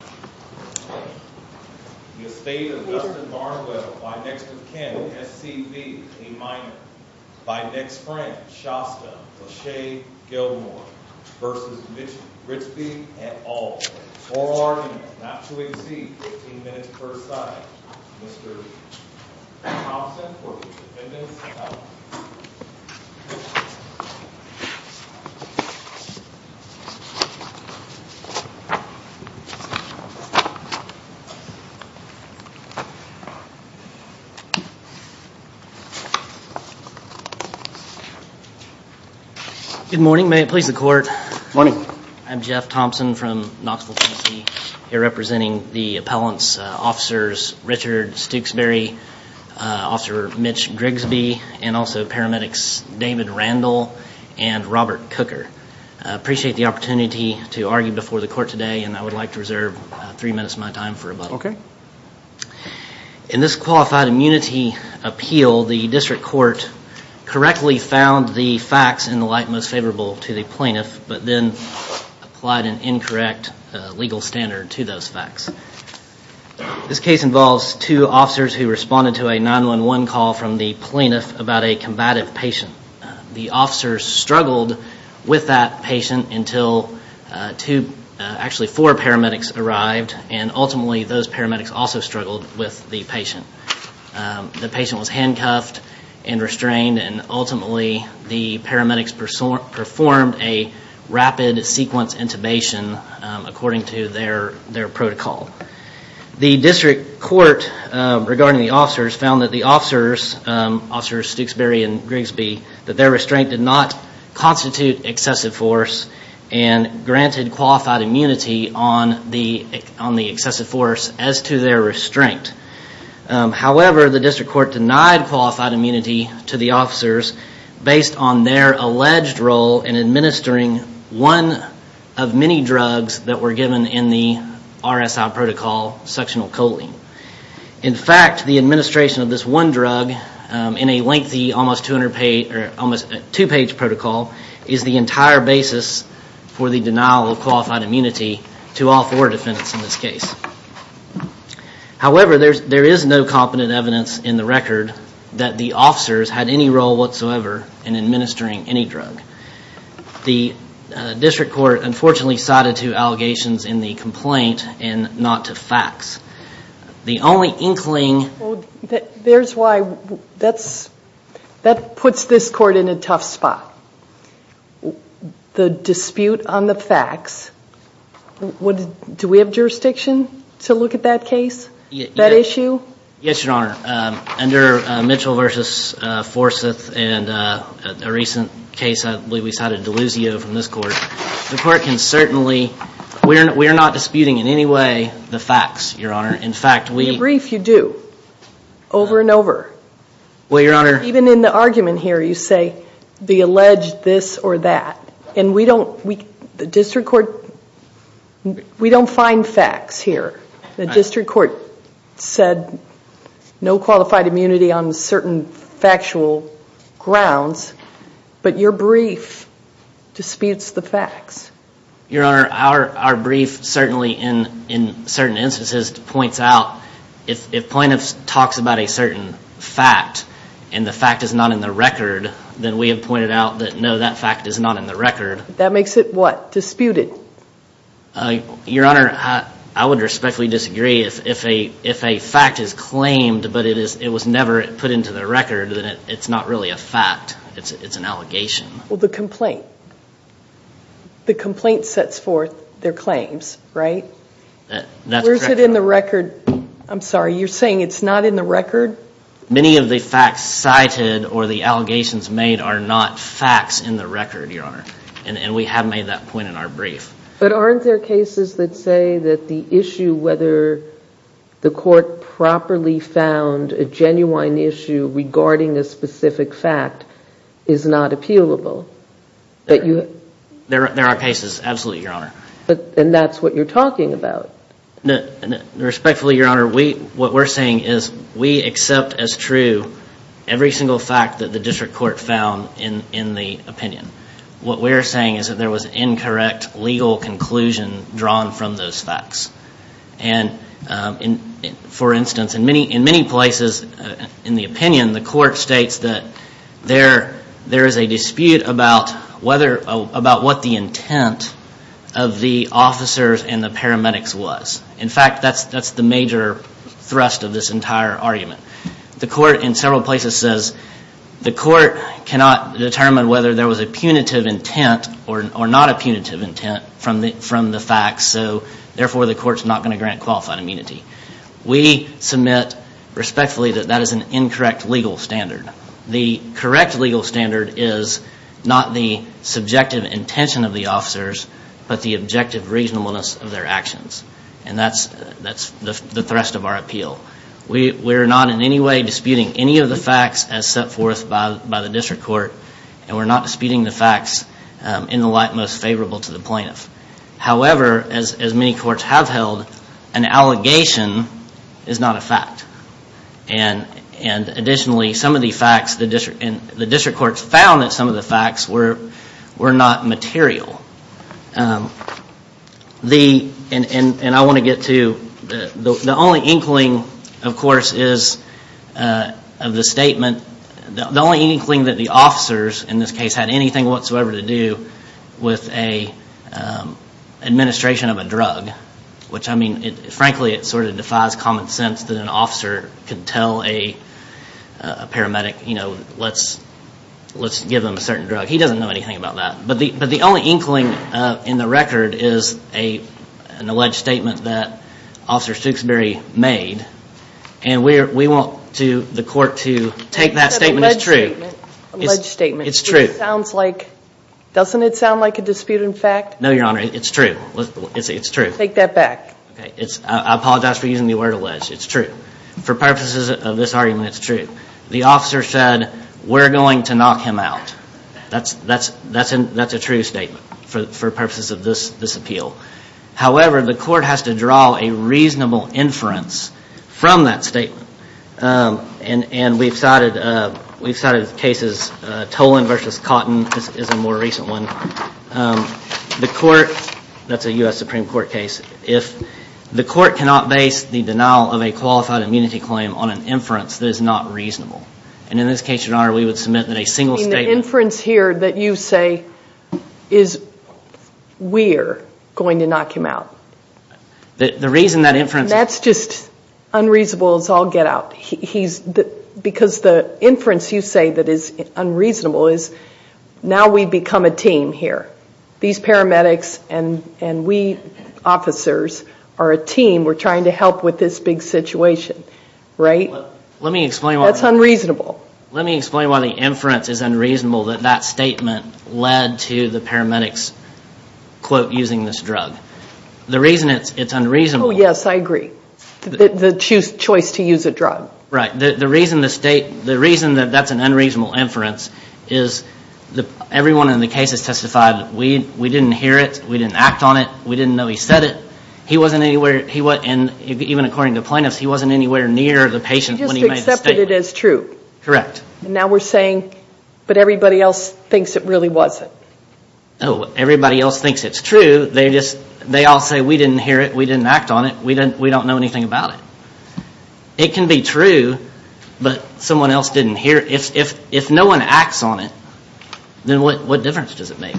The estate of Dustin Barnwell, by next of kin SCB, a minor, by next friend Shasta Claché Gilmore v. Mitch Gritsby, et al., for argument not to exceed 15 minutes per side. Mr. Thompson for the defendant's out. Good morning. May it please the court. Good morning. I'm Jeff Thompson from Knoxville, Tennessee, here representing the appellant's officers Richard Stooksberry, Officer Mitch Gritsby, and also paramedics David Randall and Robert Cooker. I appreciate the opportunity to argue before the court today, and I would like to reserve three minutes of my time for rebuttal. In this qualified immunity appeal, the district court correctly found the facts in the light most favorable to the plaintiff, but then applied an incorrect legal standard to those facts. This case involves two officers who responded to a 911 call from the plaintiff about a combative patient. The officers struggled with that patient until two, actually four paramedics arrived, and ultimately those paramedics also struggled with the patient. The patient was handcuffed and restrained, and ultimately the paramedics performed a rapid sequence intubation according to their protocol. The district court regarding the officers found that the officers, officers Stooksberry and Gritsby, that their restraint did not constitute excessive force and granted qualified immunity on the excessive force as to their restraint. However, the district court denied qualified immunity to the officers based on their alleged role in administering one of many drugs that were given in the RSI protocol, suctional choline. In fact, the administration of this one drug in a lengthy almost two-page protocol is the entire basis for the denial of qualified immunity to all four defendants in this case. However, there is no competent evidence in the record that the officers had any role whatsoever in administering any drug. The district court unfortunately cited two allegations in the complaint and not to facts. The only inkling... There's why, that's, that puts this court in a tough spot. The dispute on the facts, do we have jurisdiction to look at that case, that issue? Yes, Your Honor. Under Mitchell v. Forsyth and a recent case, I believe we cited Deluzio from this court. The court can certainly, we are not disputing in any way the facts, Your Honor. In fact, we... In brief, you do, over and over. Well, Your Honor... Even in the argument here, you say the alleged this or that. And we don't, the district court, we don't find facts here. The district court said no qualified immunity on certain factual grounds, but your brief disputes the facts. Your Honor, our brief certainly in certain instances points out if plaintiff talks about a certain fact and the fact is not in the record, then we have pointed out that no, that fact is not in the record. That makes it what? Disputed? Your Honor, I would respectfully disagree if a fact is claimed, but it was never put into the record, then it's not really a fact. It's an allegation. Well, the complaint. The complaint sets forth their claims, right? That's correct, Your Honor. Where is it in the record? I'm sorry, you're saying it's not in the record? Many of the facts cited or the allegations made are not facts in the record, Your Honor. And we have made that point in our brief. But aren't there cases that say that the issue whether the court properly found a genuine issue regarding a specific fact is not appealable? There are cases, absolutely, Your Honor. And that's what you're talking about. Respectfully, Your Honor, what we're saying is we accept as true every single fact that the district court found in the opinion. What we're saying is that there was incorrect legal conclusion drawn from those facts. And, for instance, in many places in the opinion, the court states that there is a dispute about what the intent of the officers and the paramedics was. In fact, that's the major thrust of this entire argument. The court in several places says the court cannot determine whether there was a punitive intent or not a punitive intent from the facts. So, therefore, the court's not going to grant qualified immunity. We submit respectfully that that is an incorrect legal standard. The correct legal standard is not the subjective intention of the officers, but the objective reasonableness of their actions. And that's the thrust of our appeal. We're not in any way disputing any of the facts as set forth by the district court. And we're not disputing the facts in the light most favorable to the plaintiff. However, as many courts have held, an allegation is not a fact. And, additionally, some of the facts, the district courts found that some of the facts were not material. And I want to get to, the only inkling, of course, is of the statement, the only inkling that the officers, in this case, had anything whatsoever to do with an administration of a drug. Which, I mean, frankly, it sort of defies common sense that an officer could tell a paramedic, you know, let's give them a certain drug. He doesn't know anything about that. But the only inkling in the record is an alleged statement that Officer Stukesbury made. And we want the court to take that statement as true. Alleged statement. It's true. It sounds like, doesn't it sound like a disputed fact? No, Your Honor, it's true. It's true. Take that back. I apologize for using the word alleged. It's true. For purposes of this argument, it's true. The officer said, we're going to knock him out. That's a true statement for purposes of this appeal. However, the court has to draw a reasonable inference from that statement. And we've cited cases, Tolan v. Cotton is a more recent one. The court, that's a U.S. Supreme Court case. If the court cannot base the denial of a qualified immunity claim on an inference, that is not reasonable. And in this case, Your Honor, we would submit that a single statement. The inference here that you say is we're going to knock him out. The reason that inference. That's just unreasonable as all get out. Because the inference you say that is unreasonable is now we've become a team here. These paramedics and we officers are a team. We're trying to help with this big situation. Right? Let me explain. That's unreasonable. Let me explain why the inference is unreasonable that that statement led to the paramedics, quote, using this drug. The reason it's unreasonable. Oh, yes. I agree. The choice to use a drug. Right. The reason that's an unreasonable inference is everyone in the case has testified we didn't hear it. We didn't act on it. We didn't know he said it. And even according to plaintiffs, he wasn't anywhere near the patient when he made the statement. He just accepted it as true. Correct. And now we're saying, but everybody else thinks it really wasn't. Oh, everybody else thinks it's true. They all say we didn't hear it. We didn't act on it. We don't know anything about it. It can be true, but someone else didn't hear it. If no one acts on it, then what difference does it make?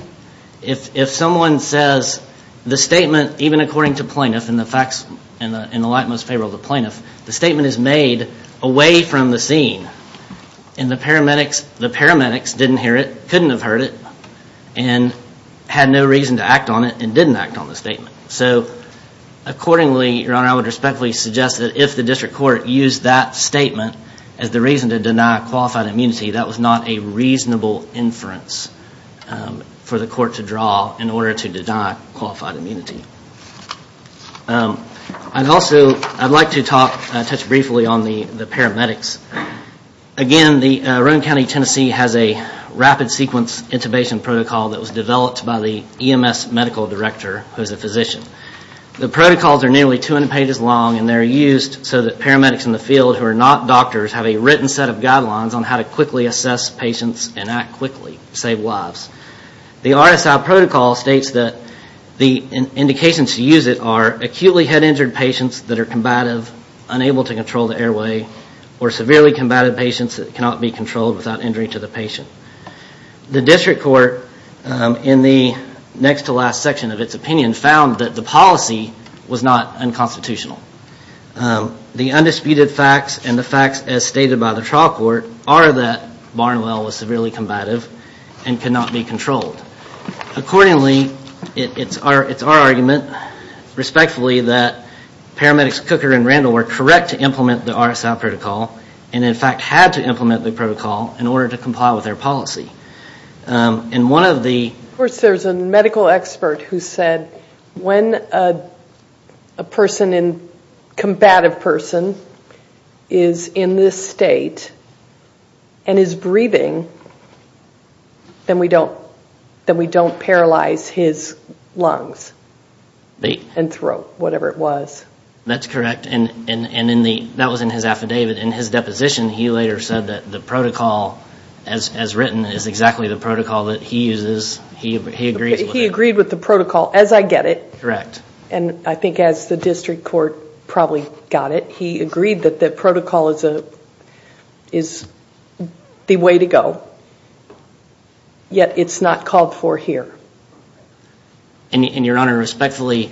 If someone says the statement, even according to plaintiffs, and the facts in the light and most favor of the plaintiffs, the statement is made away from the scene, and the paramedics didn't hear it, couldn't have heard it, and had no reason to act on it and didn't act on the statement. So accordingly, Your Honor, I would respectfully suggest that if the district court used that statement as the reason to deny qualified immunity, that was not a reasonable inference for the court to draw in order to deny qualified immunity. I'd also like to touch briefly on the paramedics. Again, the Rowan County, Tennessee, has a rapid sequence intubation protocol that was developed by the EMS medical director, who is a physician. The protocols are nearly 200 pages long, and they're used so that paramedics in the field who are not doctors have a written set of guidelines on how to quickly assess patients and act quickly, save lives. The RSI protocol states that the indications to use it are acutely head-injured patients that are combative, unable to control the airway, or severely combative patients that cannot be controlled without injuring to the patient. The district court, in the next to last section of its opinion, found that the policy was not unconstitutional. The undisputed facts and the facts as stated by the trial court are that Barnwell was severely combative and could not be controlled. Accordingly, it's our argument, respectfully, that paramedics Cooker and Randall were correct to implement the RSI protocol, and in fact had to implement the protocol in order to comply with their policy. And one of the... Of course, there's a medical expert who said when a person, a combative person, is in this state and is breathing, then we don't paralyze his lungs and throat, whatever it was. That's correct, and that was in his affidavit. In his deposition, he later said that the protocol, as written, is exactly the protocol that he uses. He agrees with it. He agreed with the protocol, as I get it. Correct. And I think as the district court probably got it, he agreed that the protocol is the way to go, yet it's not called for here. And, Your Honor, respectfully,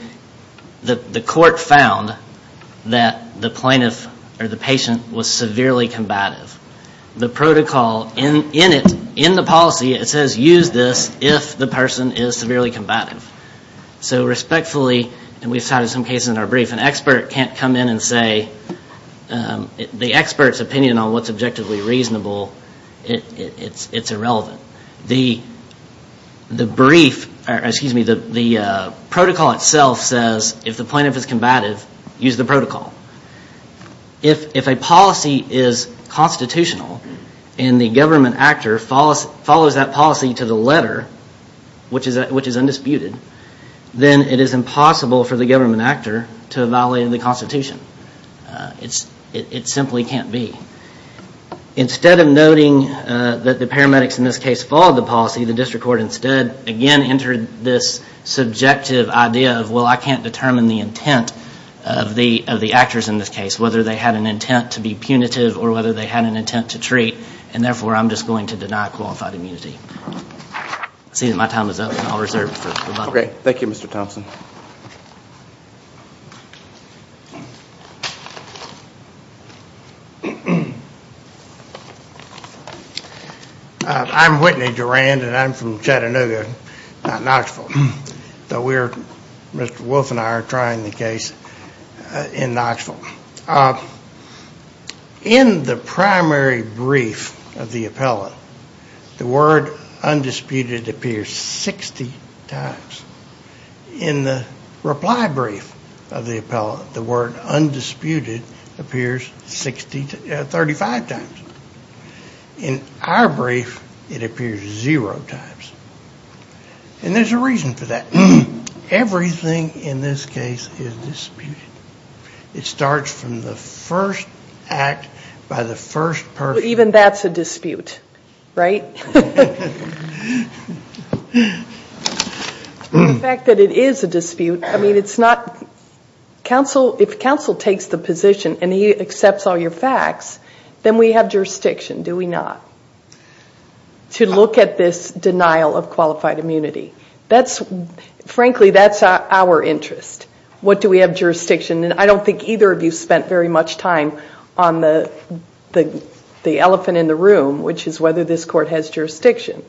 the court found that the plaintiff or the patient was severely combative. The protocol in it, in the policy, it says use this if the person is severely combative. So respectfully, and we've cited some cases in our brief, an expert can't come in and say the expert's opinion on what's objectively reasonable, it's irrelevant. The protocol itself says if the plaintiff is combative, use the protocol. If a policy is constitutional and the government actor follows that policy to the letter, which is undisputed, then it is impossible for the government actor to violate the constitution. It simply can't be. Instead of noting that the paramedics in this case followed the policy, the district court instead, again, entered this subjective idea of, well, I can't determine the intent of the actors in this case, whether they had an intent to be punitive or whether they had an intent to treat, and therefore I'm just going to deny qualified immunity. I see that my time is up and I'll reserve it. Okay. Thank you, Mr. Thompson. I'm Whitney Durand and I'm from Chattanooga, not Knoxville, though Mr. Wolf and I are trying the case in Knoxville. In the primary brief of the appellant, the word undisputed appears 60 times. In the reply brief of the appellant, the word undisputed appears 35 times. In our brief, it appears zero times. And there's a reason for that. Everything in this case is disputed. It starts from the first act by the first person. So even that's a dispute, right? The fact that it is a dispute, I mean, it's not. If counsel takes the position and he accepts all your facts, then we have jurisdiction, do we not, to look at this denial of qualified immunity. Frankly, that's our interest. What do we have jurisdiction? I don't think either of you spent very much time on the elephant in the room, which is whether this court has jurisdiction.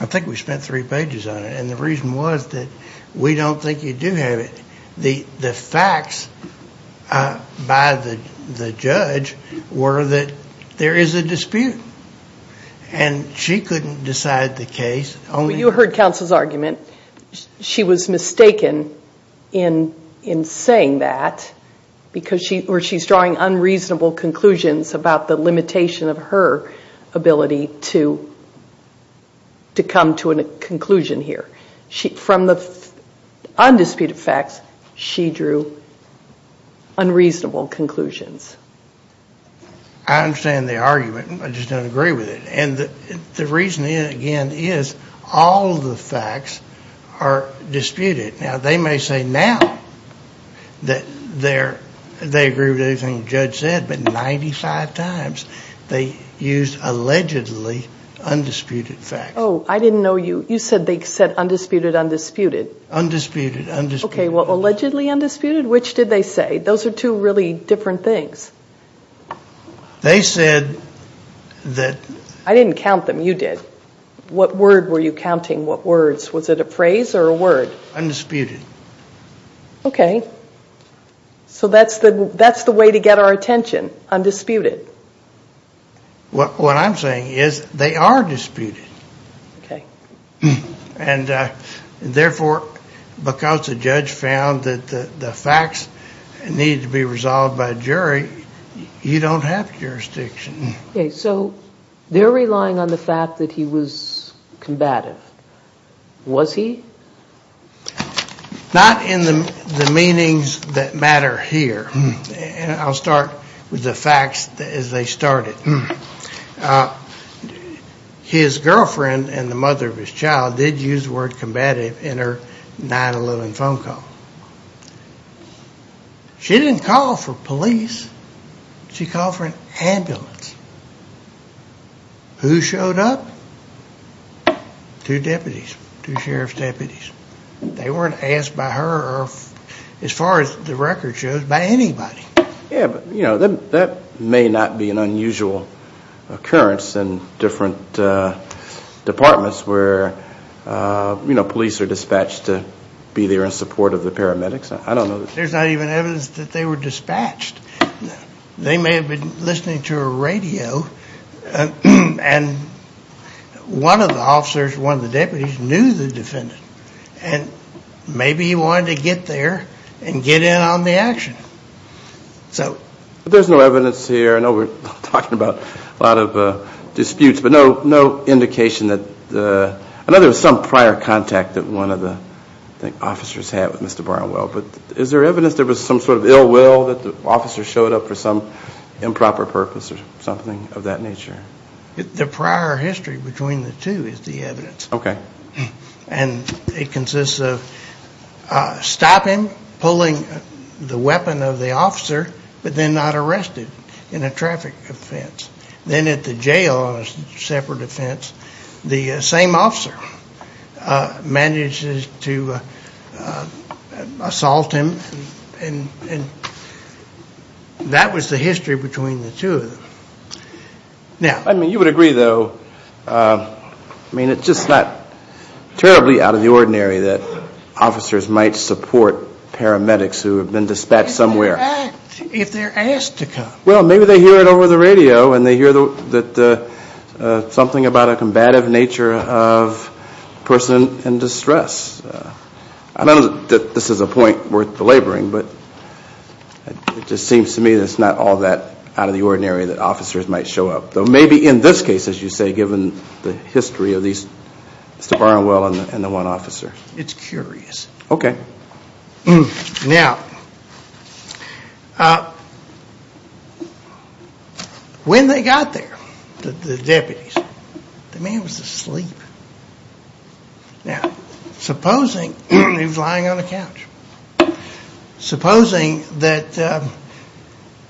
I think we spent three pages on it. And the reason was that we don't think you do have it. The facts by the judge were that there is a dispute. And she couldn't decide the case. You heard counsel's argument. She was mistaken in saying that because she's drawing unreasonable conclusions about the limitation of her ability to come to a conclusion here. From the undisputed facts, she drew unreasonable conclusions. I understand the argument. I just don't agree with it. And the reason, again, is all the facts are disputed. Now, they may say now that they agree with everything the judge said, but 95 times they used allegedly undisputed facts. Oh, I didn't know you. You said they said undisputed, undisputed. Undisputed, undisputed. Okay, well, allegedly undisputed, which did they say? Those are two really different things. They said that... I didn't count them. You did. What word were you counting? What words? Was it a phrase or a word? Undisputed. Okay. So that's the way to get our attention, undisputed. What I'm saying is they are disputed. Okay. And, therefore, because the judge found that the facts needed to be resolved by a jury, you don't have jurisdiction. Okay, so they're relying on the fact that he was combative. Was he? Not in the meanings that matter here. I'll start with the facts as they started. His girlfriend and the mother of his child did use the word combative in her 9-11 phone call. She didn't call for police. She called for an ambulance. Who showed up? Two deputies, two sheriff's deputies. They weren't asked by her or, as far as the record shows, by anybody. Yeah, but that may not be an unusual occurrence in different departments where police are dispatched to be there in support of the paramedics. I don't know. There's not even evidence that they were dispatched. They may have been listening to a radio, and one of the officers, one of the deputies, knew the defendant. And maybe he wanted to get there and get in on the action. But there's no evidence here. I know we're talking about a lot of disputes, but no indication that there was some prior contact that one of the officers had with Mr. Barnwell. But is there evidence there was some sort of ill will that the officer showed up for some improper purpose or something of that nature? The prior history between the two is the evidence. Okay. And it consists of stop him, pulling the weapon of the officer, but then not arrest him in a traffic offense. Then at the jail on a separate offense, the same officer manages to assault him, and that was the history between the two of them. I mean, you would agree, though, I mean, it's just not terribly out of the ordinary that officers might support paramedics who have been dispatched somewhere. If they're asked to come. Well, maybe they hear it over the radio, and they hear something about a combative nature of a person in distress. I don't know that this is a point worth belaboring, but it just seems to me that it's not all that out of the ordinary that officers might show up. Though maybe in this case, as you say, given the history of Mr. Barnwell and the one officer. It's curious. Okay. Now, when they got there, the deputies, the man was asleep. Now, supposing he was lying on the couch. Supposing that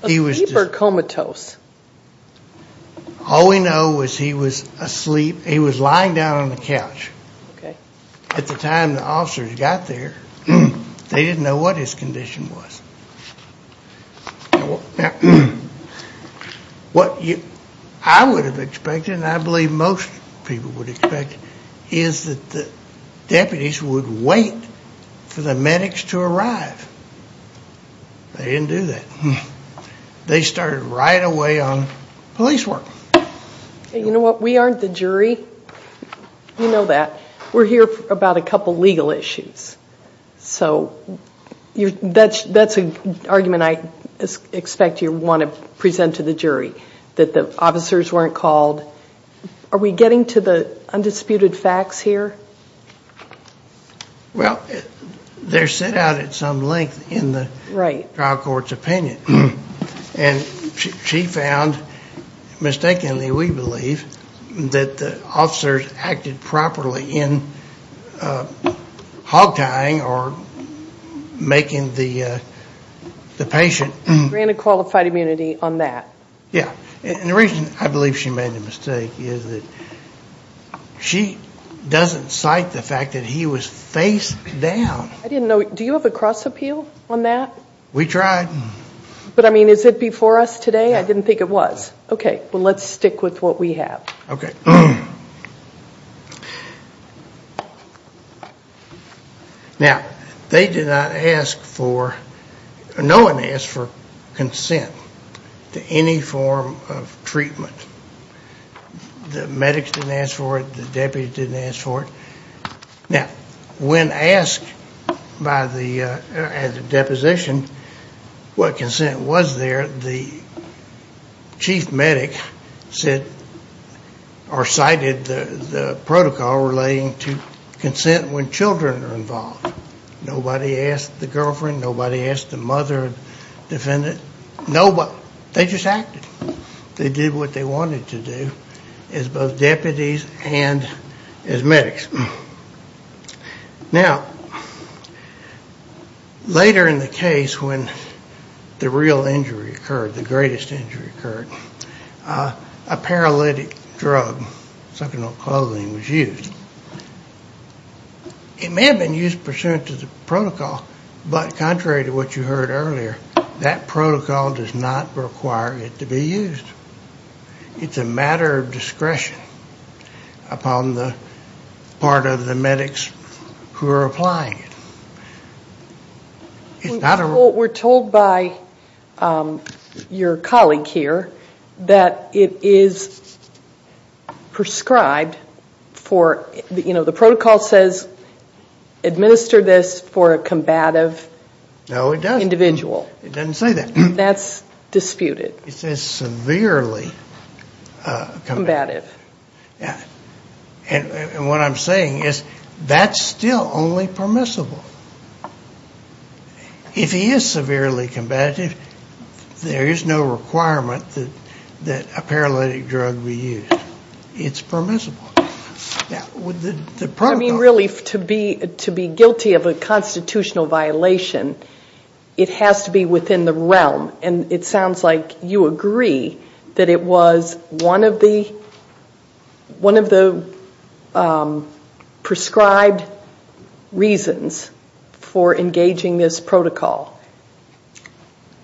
he was. A sleeper comatose. All we know is he was asleep. He was lying down on the couch. Okay. At the time the officers got there, they didn't know what his condition was. Now, what I would have expected, and I believe most people would expect, is that the deputies would wait for the medics to arrive. They didn't do that. They started right away on police work. You know what? We aren't the jury. You know that. We're here about a couple legal issues. So that's an argument I expect you want to present to the jury, that the officers weren't called. Are we getting to the undisputed facts here? Well, they're set out at some length in the trial court's opinion. And she found, mistakenly we believe, that the officers acted properly in hog tying or making the patient. Granted qualified immunity on that. Yeah. And the reason I believe she made the mistake is that she doesn't cite the fact that he was face down. I didn't know. Do you have a cross appeal on that? We tried. But, I mean, is it before us today? I didn't think it was. Okay. Well, let's stick with what we have. Okay. Now, they did not ask for, no one asked for consent to any form of treatment. The medics didn't ask for it. The deputies didn't ask for it. Now, when asked by the, at the deposition, what consent was there, the chief medic said, or cited the protocol relating to consent when children are involved. Nobody asked the girlfriend. Nobody asked the mother defendant. Nobody. They just acted. They did what they wanted to do as both deputies and as medics. Now, later in the case when the real injury occurred, the greatest injury occurred, a paralytic drug, something called clothing, was used. It may have been used pursuant to the protocol, but contrary to what you heard earlier, that protocol does not require it to be used. It's a matter of discretion upon the part of the medics who are applying it. We're told by your colleague here that it is prescribed for, you know, the protocol says administer this for a combative individual. It doesn't say that. That's disputed. It says severely combative. And what I'm saying is that's still only permissible. If he is severely combative, there is no requirement that a paralytic drug be used. It's permissible. I mean, really, to be guilty of a constitutional violation, it has to be within the realm. And it sounds like you agree that it was one of the prescribed reasons for engaging this protocol.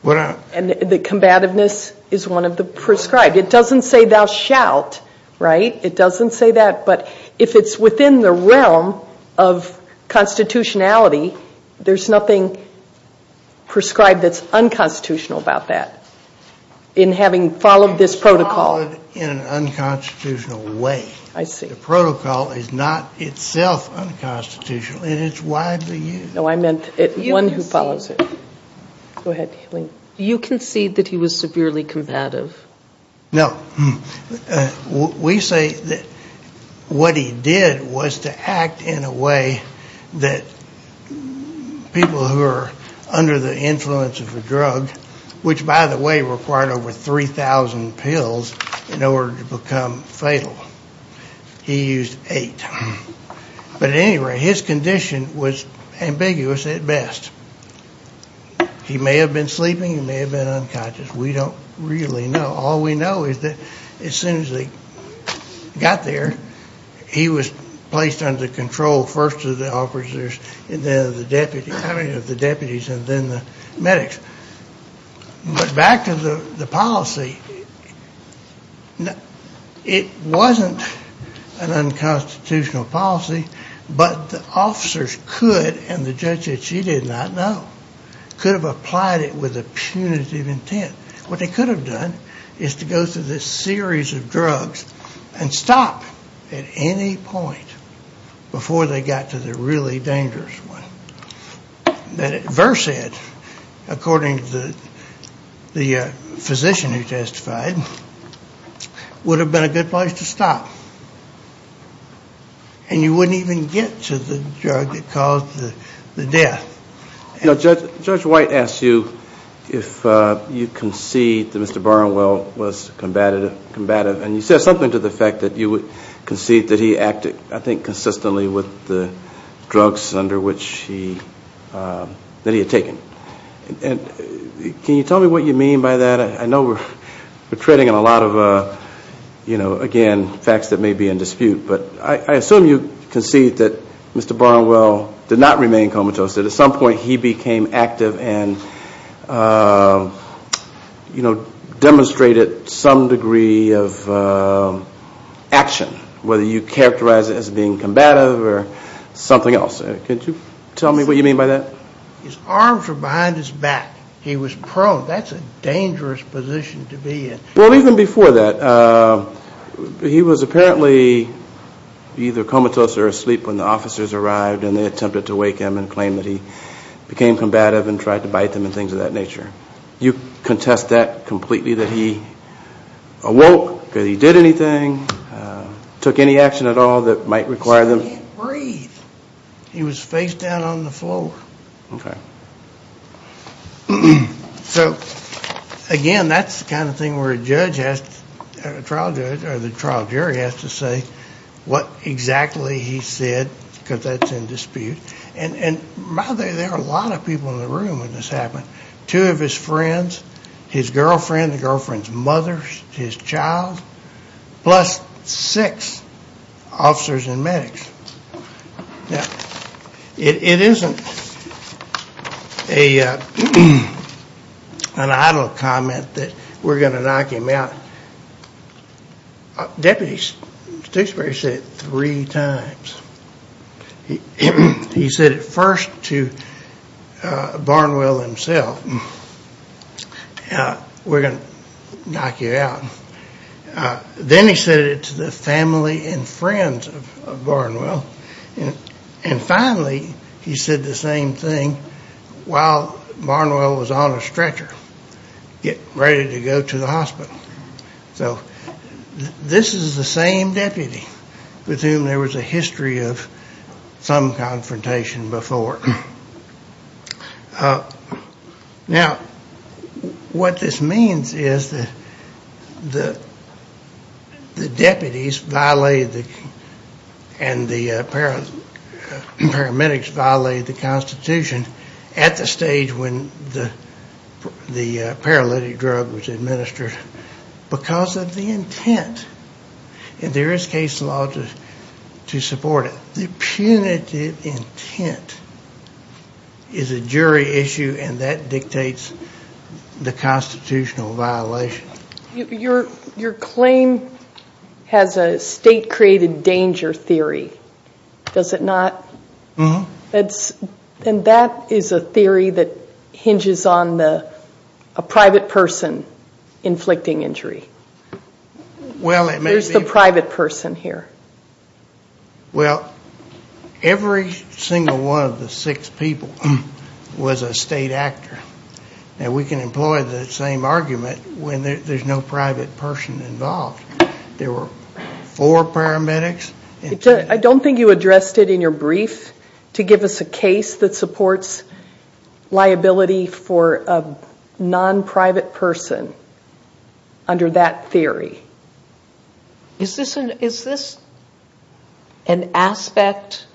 And the combativeness is one of the prescribed. It doesn't say thou shalt, right? It doesn't say that. But if it's within the realm of constitutionality, there's nothing prescribed that's unconstitutional about that in having followed this protocol. It's followed in an unconstitutional way. I see. The protocol is not itself unconstitutional, and it's widely used. No, I meant one who follows it. Go ahead. You concede that he was severely combative. No. We say that what he did was to act in a way that people who are under the influence of a drug, which, by the way, required over 3,000 pills in order to become fatal, he used eight. But at any rate, his condition was ambiguous at best. He may have been sleeping. He may have been unconscious. We don't really know. All we know is that as soon as he got there, he was placed under control first of the officers and then of the deputies and then the medics. But back to the policy, it wasn't an unconstitutional policy, but the officers could, and the judge said she did not know, could have applied it with a punitive intent. What they could have done is to go through this series of drugs and stop at any point before they got to the really dangerous one. Versed, according to the physician who testified, would have been a good place to stop, and you wouldn't even get to the drug that caused the death. Judge White asked you if you concede that Mr. Barnwell was combative, and you said something to the effect that you would concede that he acted, I think, consistently with the drugs that he had taken. Can you tell me what you mean by that? I know we're treading on a lot of, again, facts that may be in dispute, but I assume you concede that Mr. Barnwell did not remain comatose. At some point he became active and demonstrated some degree of action, whether you characterize it as being combative or something else. Can you tell me what you mean by that? His arms were behind his back. He was prone. That's a dangerous position to be in. Well, even before that, he was apparently either comatose or asleep when the officers arrived, and they attempted to wake him and claim that he became combative and tried to bite him and things of that nature. You contest that completely, that he awoke, that he did anything, took any action at all that might require them? He said he can't breathe. He was face down on the floor. Okay. So, again, that's the kind of thing where a judge has to, a trial judge, or the trial jury has to say what exactly he said because that's in dispute. And by the way, there are a lot of people in the room when this happened, two of his friends, his girlfriend, the girlfriend's mother, his child, plus six officers and medics. Now, it isn't an idle comment that we're going to knock him out. Deputy Stokesbury said it three times. He said it first to Barnwell himself, we're going to knock you out. Then he said it to the family and friends of Barnwell. And finally, he said the same thing while Barnwell was on a stretcher, ready to go to the hospital. So this is the same deputy with whom there was a history of some confrontation before. Now, what this means is that the deputies violated the, and the paramedics violated the Constitution at the stage when the paralytic drug was administered because of the intent. And there is case law to support it. The punitive intent is a jury issue, and that dictates the constitutional violation. Your claim has a state-created danger theory, does it not? And that is a theory that hinges on a private person inflicting injury. There's the private person here. Well, every single one of the six people was a state actor. And we can employ the same argument when there's no private person involved. There were four paramedics. I don't think you addressed it in your brief to give us a case that supports liability for a non-private person under that theory. Is this an aspect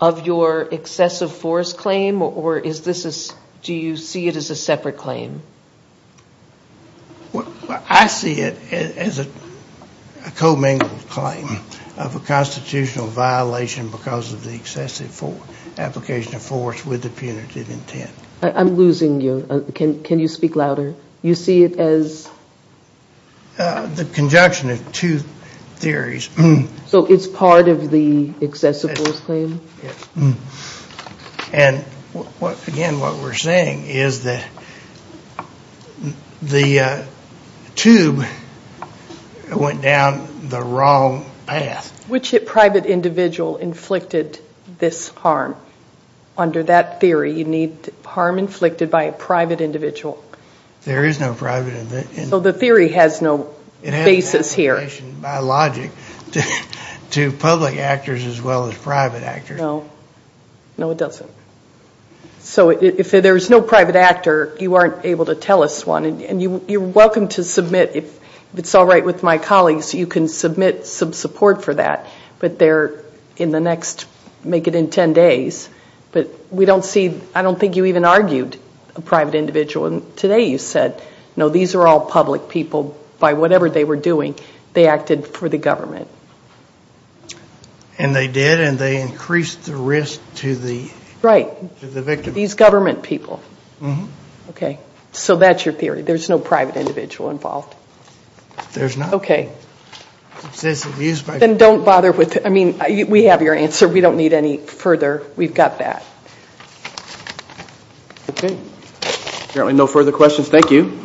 of your excessive force claim, or do you see it as a separate claim? I see it as a commingled claim of a constitutional violation because of the excessive application of force with the punitive intent. I'm losing you. Can you speak louder? You see it as? The conjunction of two theories. So it's part of the excessive force claim? Yes. And again, what we're saying is that the tube went down the wrong path. Which private individual inflicted this harm? Under that theory, you need harm inflicted by a private individual. There is no private individual. So the theory has no basis here. It has application by logic to public actors as well as private actors. No. No, it doesn't. So if there's no private actor, you aren't able to tell us one. And you're welcome to submit. If it's all right with my colleagues, you can submit some support for that. But they're in the next, make it in ten days. But we don't see, I don't think you even argued a private individual. Today you said, no, these are all public people. By whatever they were doing, they acted for the government. And they did, and they increased the risk to the victim. These government people. So that's your theory. There's no private individual involved. There's not. Okay. Then don't bother with, I mean, we have your answer. We don't need any further. We've got that. Okay. Apparently no further questions. Thank you.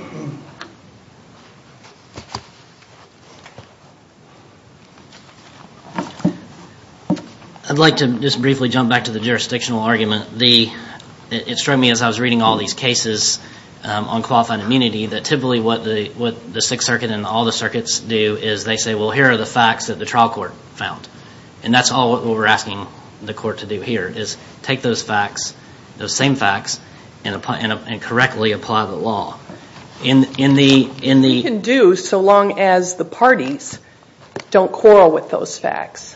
I'd like to just briefly jump back to the jurisdictional argument. It struck me as I was reading all these cases on qualified immunity that typically what the Sixth Circuit and all the circuits do is they say, well, here are the facts that the trial court found. And that's all what we're asking the court to do here is take those facts, those same facts, and correctly apply the law. We can do so long as the parties don't quarrel with those facts.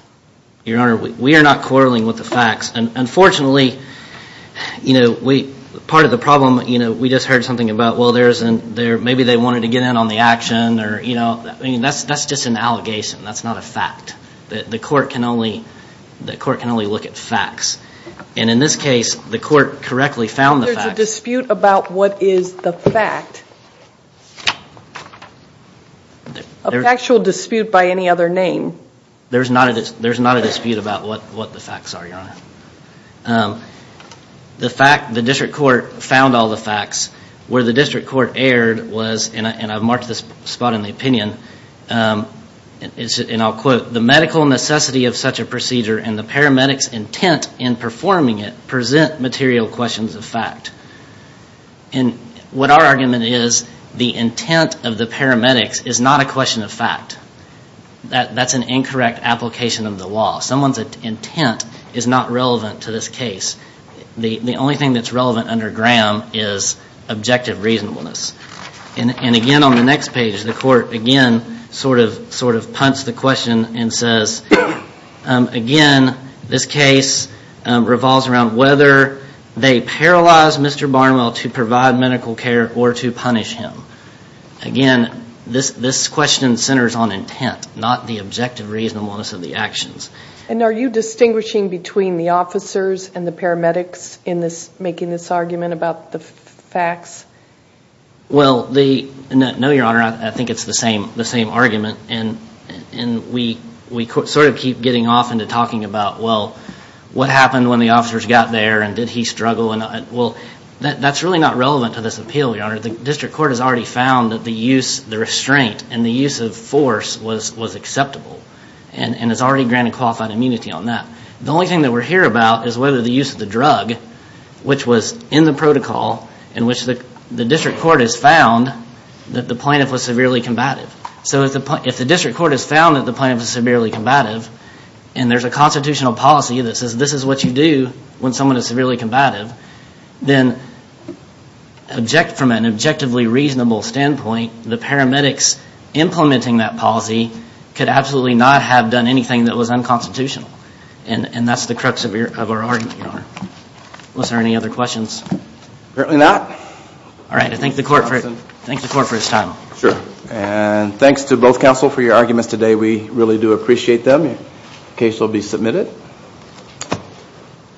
Your Honor, we are not quarreling with the facts. Unfortunately, you know, part of the problem, you know, we just heard something about, well, maybe they wanted to get in on the action, or, you know, that's just an allegation. That's not a fact. The court can only look at facts. And in this case, the court correctly found the facts. There's a dispute about what is the fact. A factual dispute by any other name. There's not a dispute about what the facts are, Your Honor. The fact the district court found all the facts, where the district court erred was, and I've marked this spot in the opinion, and I'll quote, the medical necessity of such a procedure and the paramedic's intent in performing it present material questions of fact. And what our argument is, the intent of the paramedics is not a question of fact. That's an incorrect application of the law. Someone's intent is not relevant to this case. The only thing that's relevant under Graham is objective reasonableness. And, again, on the next page, the court, again, sort of punts the question and says, again, this case revolves around whether they paralyzed Mr. Barnwell to provide medical care or to punish him. Again, this question centers on intent, not the objective reasonableness of the actions. And are you distinguishing between the officers and the paramedics in making this argument about the facts? Well, no, Your Honor. I think it's the same argument, and we sort of keep getting off into talking about, well, what happened when the officers got there, and did he struggle? Well, that's really not relevant to this appeal, Your Honor. The district court has already found that the use, the restraint, and the use of force was acceptable, and has already granted qualified immunity on that. The only thing that we're here about is whether the use of the drug, which was in the protocol, in which the district court has found that the plaintiff was severely combative. So if the district court has found that the plaintiff was severely combative, and there's a constitutional policy that says this is what you do when someone is severely combative, then from an objectively reasonable standpoint, the paramedics implementing that policy could absolutely not have done anything that was unconstitutional. And that's the crux of our argument, Your Honor. Was there any other questions? Apparently not. All right, I thank the court for its time. Sure. And thanks to both counsel for your arguments today. We really do appreciate them. The case will be submitted.